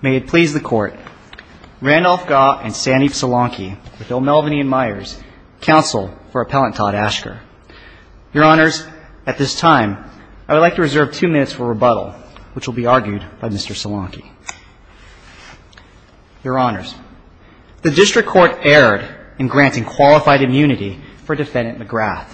May it please the court, Randolph Gah and Sandy Salonky, with Bill Melvaney and Myers, counsel for Appellant Todd Asker. Your Honors, at this time, I would like to reserve two minutes for rebuttal, which will be argued by Mr. Salonky. Your Honors, the District Court erred in granting qualified immunity for Defendant McGrath.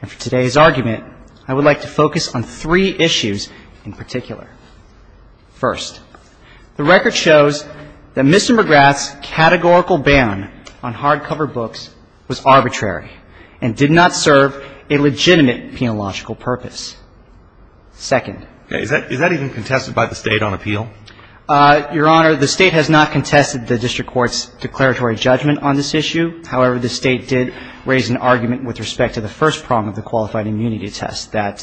And for today's argument, I would like to focus on three issues in particular. First, the record shows that Mr. McGrath's categorical ban on hardcover books was arbitrary and did not serve a legitimate penological purpose. Second. Is that even contested by the State on appeal? Your Honor, the State has not contested the District Court's declaratory judgment on this issue. However, the State did raise an argument with respect to the first prong of the qualified immunity test, that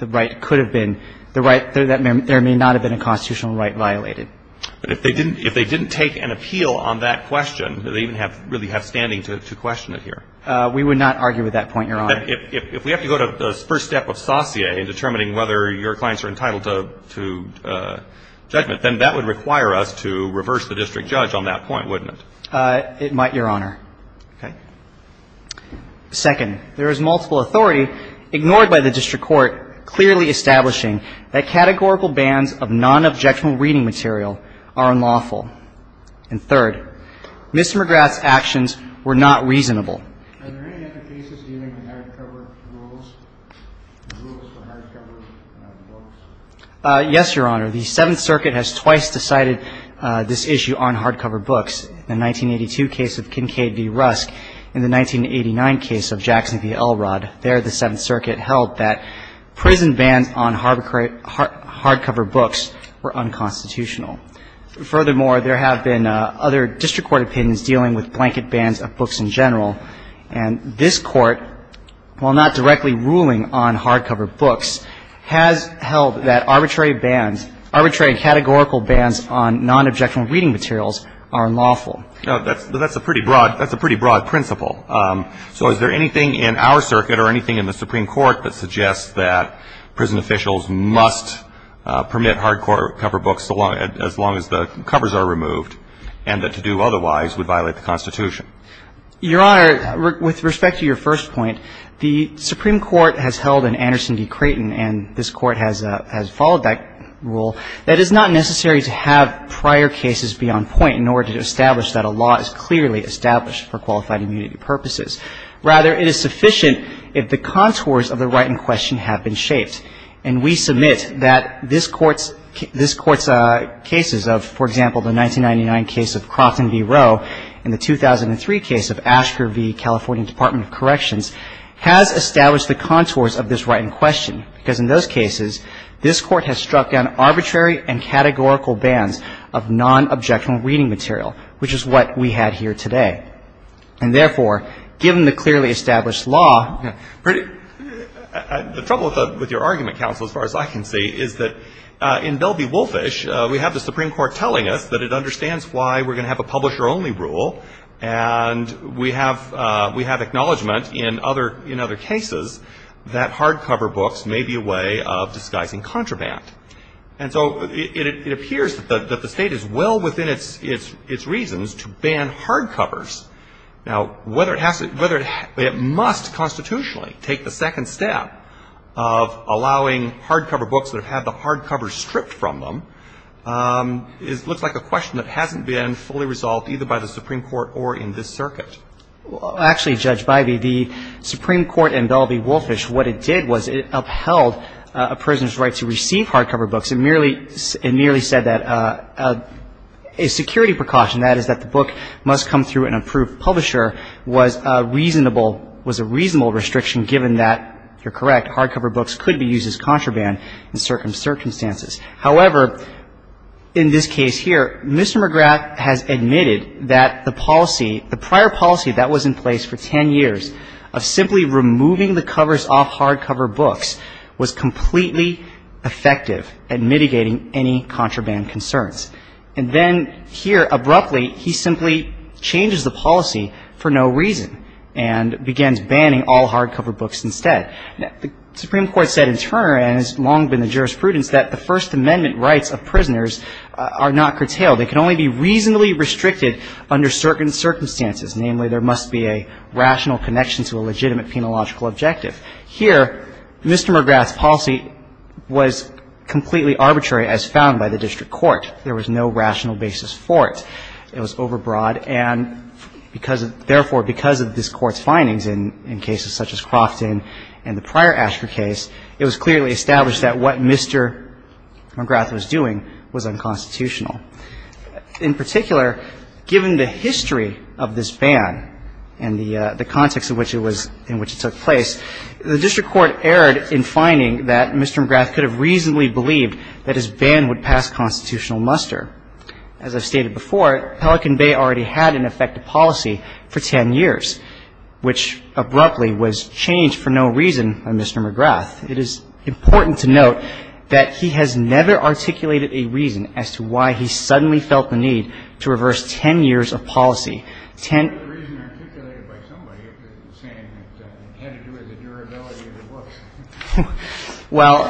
the right could have been, that there may not have been a constitutional right violated. But if they didn't take an appeal on that question, do they even really have standing to question it here? We would not argue with that point, Your Honor. If we have to go to the first step of saucier in determining whether your clients are entitled to judgment, then that would require us to reverse the district judge on that point, wouldn't it? It might, Your Honor. Okay. Second, there is multiple authority, ignored by the District Court, clearly establishing that categorical bans of nonobjectional reading material are unlawful. And third, Mr. McGrath's actions were not reasonable. Are there any other cases dealing with hardcover rules, rules for hardcover books? Yes, Your Honor. The Seventh Circuit has twice decided this issue on hardcover books. In the 1982 case of Kincaid v. Rusk and the 1989 case of Jackson v. Elrod, there, the Seventh Circuit held that prison bans on hardcover books were unconstitutional. Furthermore, there have been other district court opinions dealing with blanket bans of books in general. And this Court, while not directly ruling on hardcover books, has held that arbitrary bans, on nonobjectional reading materials, are unlawful. Now, that's a pretty broad principle. So is there anything in our circuit or anything in the Supreme Court that suggests that prison officials must permit hardcover books as long as the covers are removed and that to do otherwise would violate the Constitution? Your Honor, with respect to your first point, the Supreme Court has held in Anderson v. Creighton, and this Court has followed that rule, that it's not necessary to have prior cases be on point in order to establish that a law is clearly established for qualified immunity purposes. Rather, it is sufficient if the contours of the right in question have been shaped. And we submit that this Court's cases of, for example, the 1999 case of Crofton v. Roe and the 2003 case of Asher v. California Department of Corrections has established the contours of this right in question, because in those cases, this Court has struck down arbitrary and categorical bans of nonobjectional reading material, which is what we had here today. And therefore, given the clearly established law — The trouble with your argument, counsel, as far as I can see, is that in Bell v. Wolfish, we have the Supreme Court telling us that it understands why we're going to have a publisher-only rule, and we have acknowledgement in other cases that hardcover books may be a way of disguising contraband. And so it appears that the State is well within its reasons to ban hardcovers. Now, whether it has to — whether it must constitutionally take the second step of allowing hardcover books that have had the hardcover stripped from them looks like a question that hasn't been fully resolved either by the Supreme Court or in this circuit. Well, actually, Judge Bybee, the Supreme Court in Bell v. Wolfish, what it did was it upheld a prisoner's right to receive hardcover books. It merely — it merely said that a security precaution, that is that the book must come through an approved publisher, was a reasonable — was a reasonable restriction given that, you're correct, hardcover books could be used as contraband in certain circumstances. However, in this case here, Mr. McGrath has admitted that the policy, the prior policy that was in place for 10 years of simply removing the covers off hardcover books was completely effective at mitigating any contraband concerns. And then here, abruptly, he simply changes the policy for no reason and begins banning all hardcover books instead. The Supreme Court said in turn, and has long been the jurisprudence, that the First Amendment rights of prisoners are not curtailed. They can only be reasonably restricted under certain circumstances. Namely, there must be a rational connection to a legitimate penological objective. Here, Mr. McGrath's policy was completely arbitrary as found by the district court. There was no rational basis for it. It was clearly established that what Mr. McGrath was doing was unconstitutional. In particular, given the history of this ban and the context in which it took place, the district court erred in finding that Mr. McGrath could have reasonably believed that his ban would pass constitutional muster. In addition to the fact that Mr. McGrath's policy was unconstitutional, it's important to note that the district court, Pelican Bay, already had an effective policy for 10 years, which abruptly was changed for no reason by Mr. McGrath. It is important to note that he has never articulated a reason as to why he suddenly felt the need to reverse 10 years of policy. Well,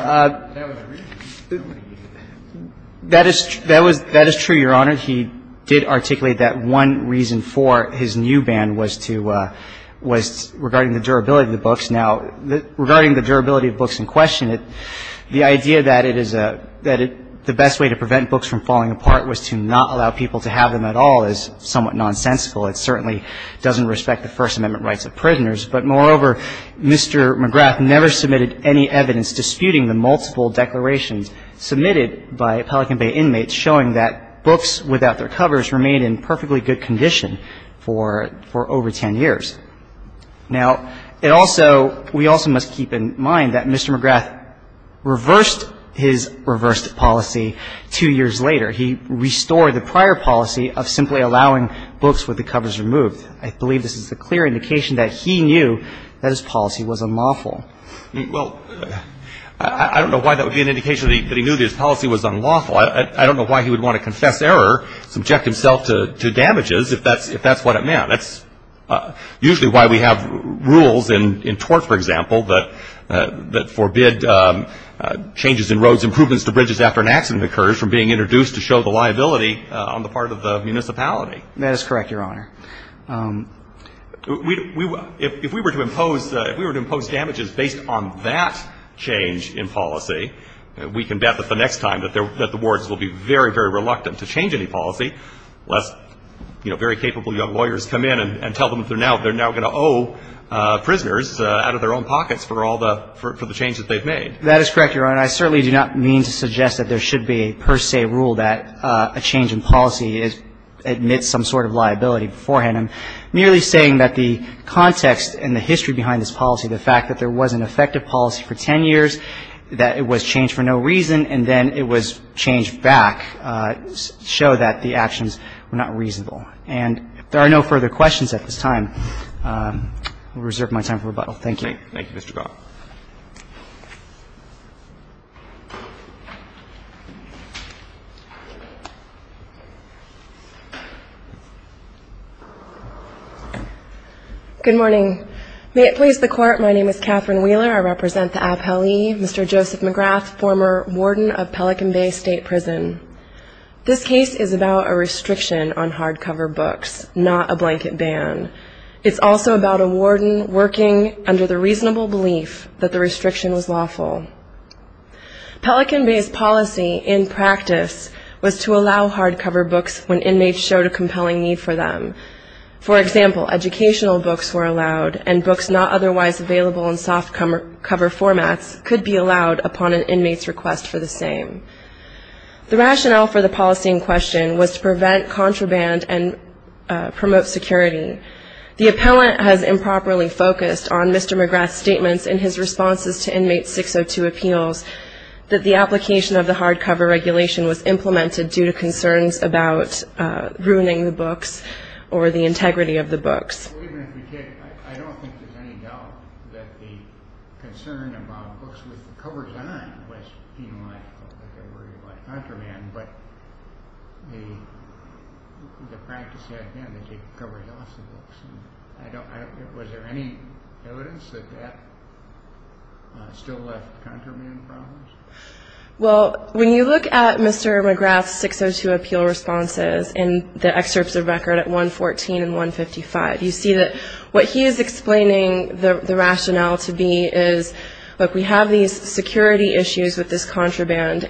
that is true, Your Honor. He did articulate that one reason for his new ban was to – was regarding the durability of the books. Now, regarding the durability of books in question, the idea that it is a – that the best way to prevent books from falling apart was to not allow people to have them at all is somewhat nonsensical. It certainly doesn't respect the First Amendment rights of prisoners. But moreover, Mr. McGrath never submitted any evidence disputing the multiple declarations submitted by Pelican Bay inmates showing that books without their covers remained in perfectly good condition for over 10 years. Now, it also – we also must keep in mind that Mr. McGrath reversed his reversed policy two years later. He restored the prior policy of simply allowing books with the covers removed. I believe this is a clear indication that he knew that his policy was unlawful. Well, I don't know why that would be an indication that he knew that his policy was unlawful. I don't know why he would want to confess error, subject himself to damages, if that's what it meant. That's usually why we have rules in torts, for example, that forbid changes in roads, improvements to bridges after an accident occurs from being introduced to show the liability on the part of the municipality. That is correct, Your Honor. If we were to impose – if we were to impose damages based on that change in policy, we can bet that the next time that the wards will be very, very reluctant to change any policy, lest, you know, very capable young lawyers come in and tell them that they're now going to owe prisoners out of their own pockets for all the – for the changes they've made. That is correct, Your Honor. I certainly do not mean to suggest that there should be a per se rule that a change in policy admits some sort of liability beforehand. I'm merely saying that the context and the history behind this policy, the fact that there was an effective policy for 10 years, that it was changed for no reason, and then it was changed back, show that the actions were not reasonable. And if there are no further questions at this time, I'll reserve my time for rebuttal. Thank you. Good morning. Thank you, Mr. Gaul. Good morning. May it please the Court, my name is Catherine Wheeler. I represent the appellee, Mr. Joseph McGrath, former warden of Pelican Bay State Prison. This case is about a restriction on hardcover books, not a blanket ban. It's also about a warden working under the reasonable belief that the restriction was lawful. Pelican Bay's policy, in practice, was to allow hardcover books when inmates showed a compelling need for them. For example, educational books were allowed, and books not otherwise available in softcover formats could be allowed upon an inmate's request for the same. The rationale for the policy in question was to prevent contraband and promote security. The appellant has improperly focused on Mr. McGrath's statements in his responses to inmate 602 appeals that the application of the hardcover regulation was implemented due to concerns about ruining the books or the integrity of the books. Well, even if we did, I don't think there's any doubt that the concern about books with contraband, but the practice, again, is to cover loss of books. Was there any evidence that that still left contraband problems? Well, when you look at Mr. McGrath's 602 appeal responses in the excerpts of record at 114 and 155, you see that what he is explaining the rationale to be is, look, we have these books,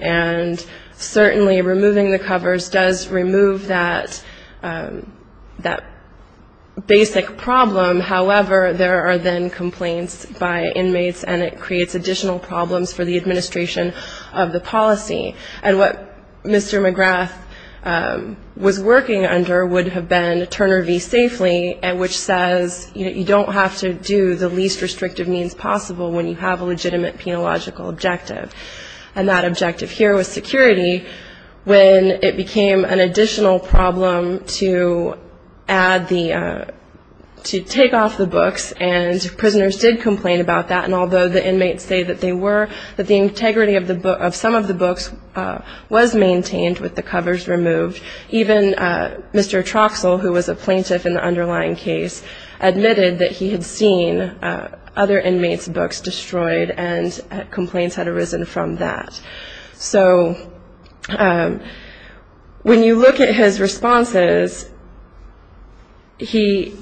and certainly removing the covers does remove that basic problem. However, there are then complaints by inmates, and it creates additional problems for the administration of the policy. And what Mr. McGrath was working under would have been Turner v. Safely, which says, you don't have to do the least restrictive means possible when you have a legitimate penological objective, and that objective here was security when it became an additional problem to add the to take off the books, and prisoners did complain about that, and although the inmates say that they were, that the integrity of some of the books was maintained with the covers removed, even Mr. Troxell, who was a plaintiff in the underlying case, admitted that he had seen other inmates' books destroyed and complaints had arisen from that. So when you look at his responses, he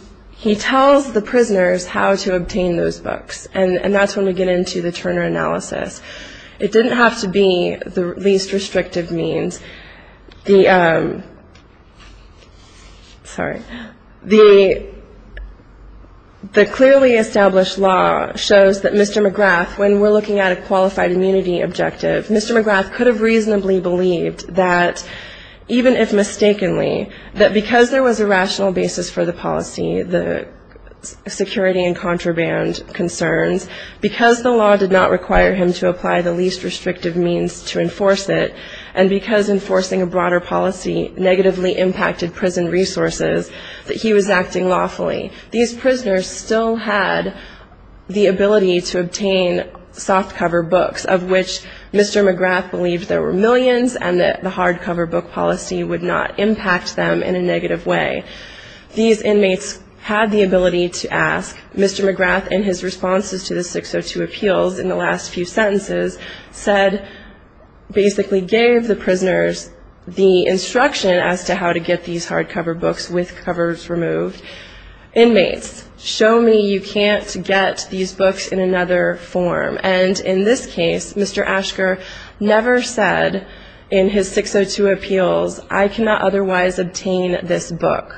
tells the prisoners how to obtain those books, and that's when we get into the Turner analysis. It didn't have to be the least restrictive means. The clearly established law shows that Mr. McGrath, when we're looking at a qualified immunity objective, Mr. McGrath could have reasonably believed that, even if mistakenly, that because there was a rational basis for the policy, the security and contraband concerns, because the law did not require him to apply the least restrictive means to enforce it, and because enforcing a broader policy negatively impacted prison resources, that he was acting lawfully. These prisoners still had the ability to obtain softcover books, of which Mr. McGrath believed there were millions and that the hardcover book policy would not impact them in a negative way. These inmates had the ability to ask. Mr. McGrath, in his responses to the 602 appeals in the last few sentences, said, basically gave the prisoners the instruction as to how to get these hardcover books with covers removed. Inmates, show me you can't get these books in another form. And in this case, Mr. Ashker never said in his 602 appeals, I cannot otherwise obtain this book.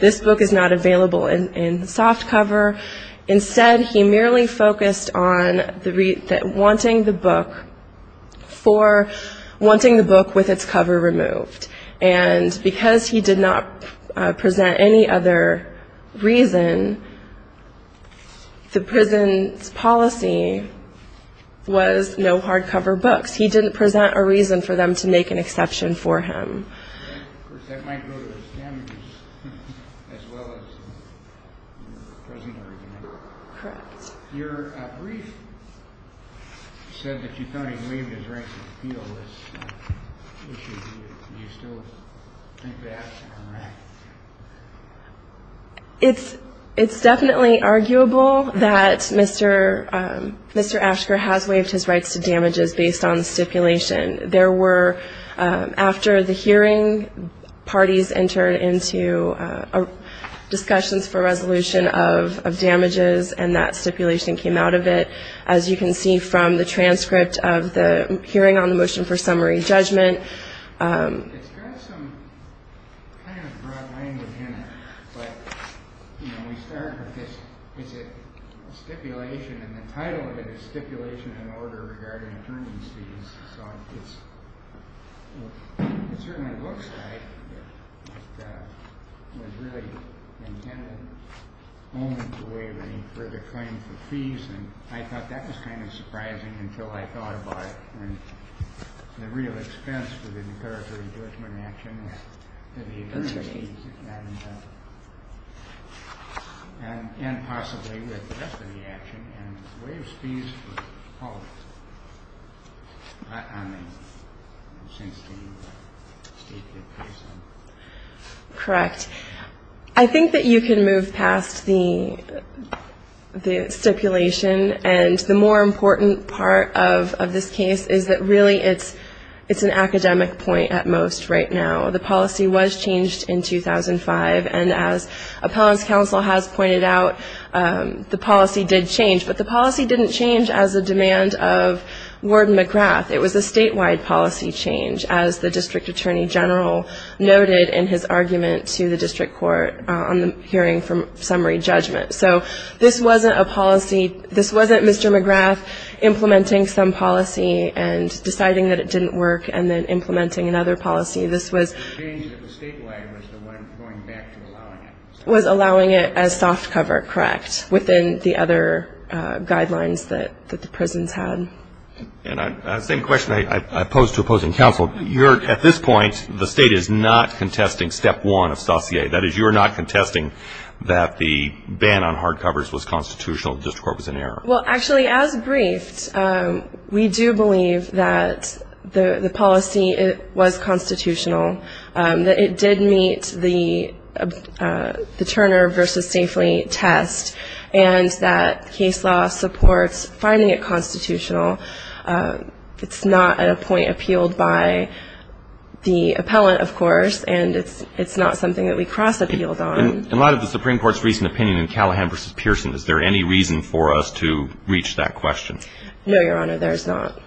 This book is not available in softcover. Instead, he merely focused on wanting the book with its cover removed. And because he did not present any other reason, the prison's policy was no hardcover books. He didn't present a reason for them to make an exception for him. As well as the prisoner. Your brief said that you thought he waived his right to appeal. Do you still think that? It's definitely arguable that Mr. Ashker has waived his rights to damages based on the stipulation. There were, after the hearing, parties entered into discussions for resolution of damages, and that stipulation came out of it. As you can see from the transcript of the hearing on the motion for summary judgment. It's got some kind of broad language in it. But, you know, we start with this stipulation, and the title of it is stipulation and order regarding attorney's fees. It certainly looks like it was really intended only to waive any further claim for fees. And I thought that was kind of surprising until I thought about it. And the real expense for the declaratory judgment action was the attorney's fees. And possibly with the rest of the action. And waive fees for the policy. Correct. I think that you can move past the stipulation. And the more important part of this case is that really it's an academic point at most right now. The policy was changed in 2005. And as appellant's counsel has pointed out, the policy did change. But the policy didn't change as a demand of Warden McGrath. It was a statewide policy change, as the district attorney general noted in his argument to the district court on the hearing for summary judgment. So this wasn't a policy, this wasn't Mr. McGrath implementing some policy and deciding that it didn't work and then implementing another policy. This was a change that the statewide was the one going back to allowing it. Was allowing it as soft cover, correct, within the other guidelines that the prisons had. And the same question I posed to opposing counsel. At this point, the state is not contesting step one of saucier. That is, you are not contesting that the ban on hard covers was constitutional, the district court was in error. Well, actually, as briefed, we do believe that the policy was constitutional. That it did meet the Turner versus Safely test. And that case law supports finding it constitutional. It's not at a point appealed by the appellant, of course. And it's not something that we cross appealed on. In light of the Supreme Court's recent opinion in Callahan versus Pearson, is there any reason for us to reach that question? No, Your Honor, there's not.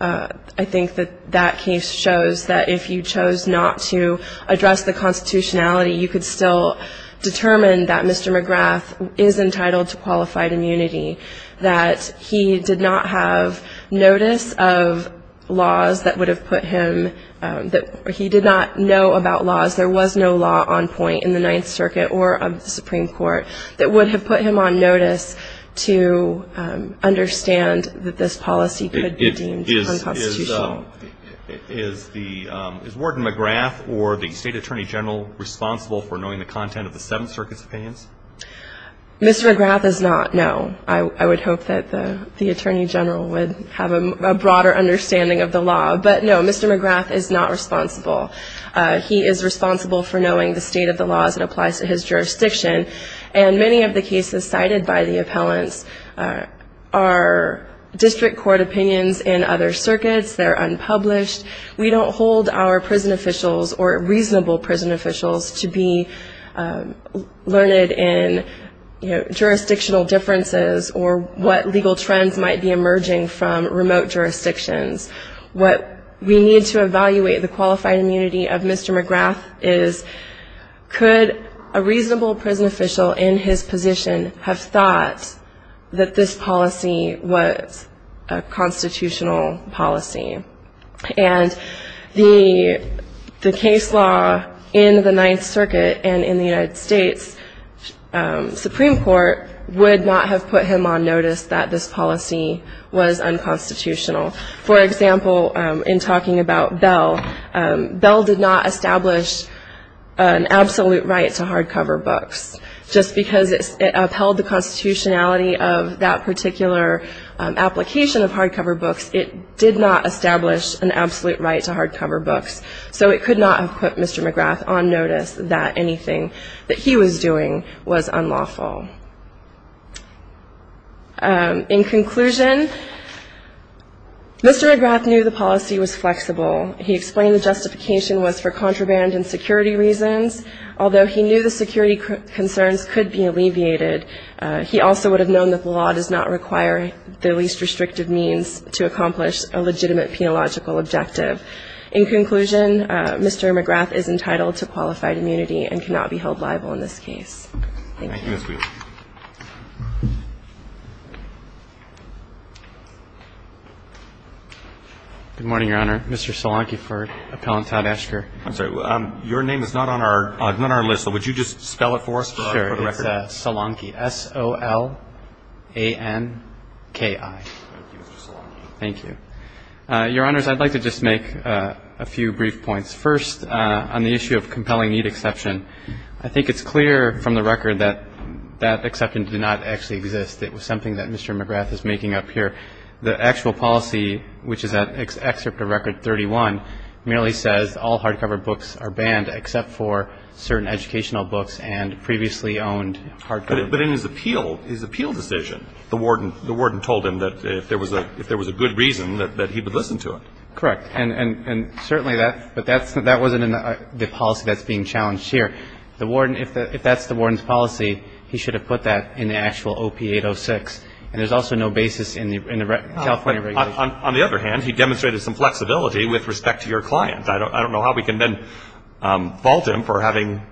I think that that case shows that if you chose not to address the constitutionality, you could still determine that Mr. McGrath is entitled to qualified immunity, that he did not have notice of laws that would have put him, that he did not know about laws. There was no law on point in the Ninth Circuit or of the Supreme Court that would have put him on notice to understand that this policy could be deemed unconstitutional. Is the – is Warden McGrath or the State Attorney General responsible for knowing the content of the Seventh Circuit's opinions? Mr. McGrath is not, no. I would hope that the Attorney General would have a broader understanding of the law. But, no, Mr. McGrath is not responsible. He is responsible for knowing the state of the law as it applies to his jurisdiction. And many of the cases cited by the appellants are district court opinions in other circuits. They're unpublished. We don't hold our prison officials or reasonable prison officials to be learned in, you know, jurisdictional differences or what legal trends might be emerging from remote jurisdictions. What we need to evaluate the qualified immunity of Mr. McGrath is, could a reasonable prison official in his position have thought that this policy was a constitutional policy? And the case law in the Ninth Circuit and in the United States Supreme Court would not have put him on notice that this policy was unconstitutional. For example, in talking about Bell, Bell did not establish an absolute right to hardcover books. Just because it upheld the constitutionality of that particular application of hardcover books, it did not establish an absolute right to hardcover books. So it could not have put Mr. McGrath on notice that anything that he was doing was unlawful. In conclusion, Mr. McGrath knew the policy was flexible. He explained the justification was for contraband and security reasons. Although he knew the security concerns could be alleviated, he also would have known that the law does not require the least restrictive means to accomplish a legitimate In conclusion, Mr. McGrath is entitled to qualified immunity and cannot be held liable in this case. Thank you. Thank you, Ms. Wheeler. Good morning, Your Honor. Mr. Solanki for Appellant Todd Escher. I'm sorry. Your name is not on our list, so would you just spell it for us for the record? Sure. It's Solanki. S-o-l-a-n-k-i. Thank you, Mr. Solanki. Thank you. Your Honors, I'd like to just make a few brief points. First, on the issue of compelling need exception, I think it's clear from the record that that exception did not actually exist. It was something that Mr. McGrath is making up here. The actual policy, which is an excerpt of Record 31, merely says all hardcover books are banned except for certain educational books and previously owned hardcover books. But in his appeal, his appeal decision, the warden told him that if there was a good reason that he would listen to it. Correct. And certainly that, but that wasn't the policy that's being challenged here. The warden, if that's the warden's policy, he should have put that in the actual OP806. And there's also no basis in the California regulation. On the other hand, he demonstrated some flexibility with respect to your client. I don't know how we can then fault him for having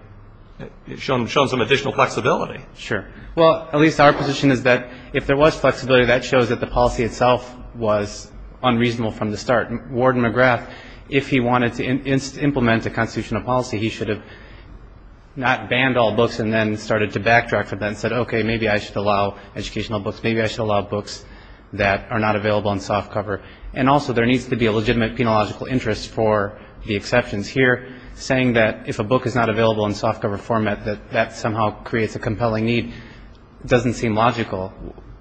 shown some additional flexibility. Sure. Well, at least our position is that if there was flexibility, that shows that the policy itself was unreasonable from the start. Warden McGrath, if he wanted to implement a constitutional policy, he should have not banned all books and then started to backtrack from that and said, okay, maybe I should allow educational books, maybe I should allow books that are not available in softcover. And also there needs to be a legitimate penological interest for the exceptions here, saying that if a book is not available in softcover format, that that somehow creates a compelling need doesn't seem logical.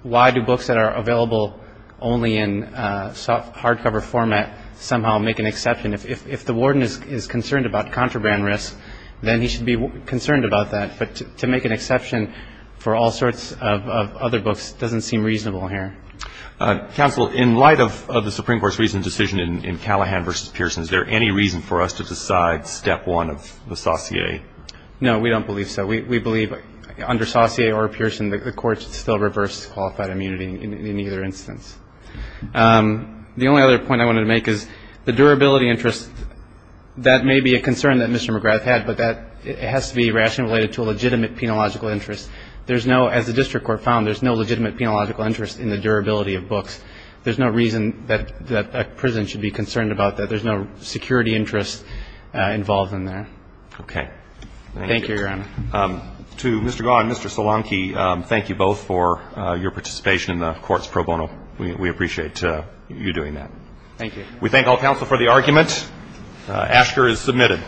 Why do books that are available only in hardcover format somehow make an exception? If the warden is concerned about contraband risk, then he should be concerned about that. But to make an exception for all sorts of other books doesn't seem reasonable here. Counsel, in light of the Supreme Court's recent decision in Callahan v. Pearson, is there any reason for us to decide step one of the saucier? No, we don't believe so. We believe under saucier or Pearson, the courts still reverse qualified immunity in either instance. The only other point I wanted to make is the durability interest, that may be a concern that Mr. McGrath had, but that has to be rationally related to a legitimate penological interest. There's no, as the district court found, there's no legitimate penological interest in the durability of books. There's no reason that a prison should be concerned about that. There's no security interest involved in there. Okay. Thank you, Your Honor. To Mr. Gau and Mr. Solanke, thank you both for your participation in the court's pro bono. We appreciate you doing that. Thank you. We thank all counsel for the argument. Asher is submitted.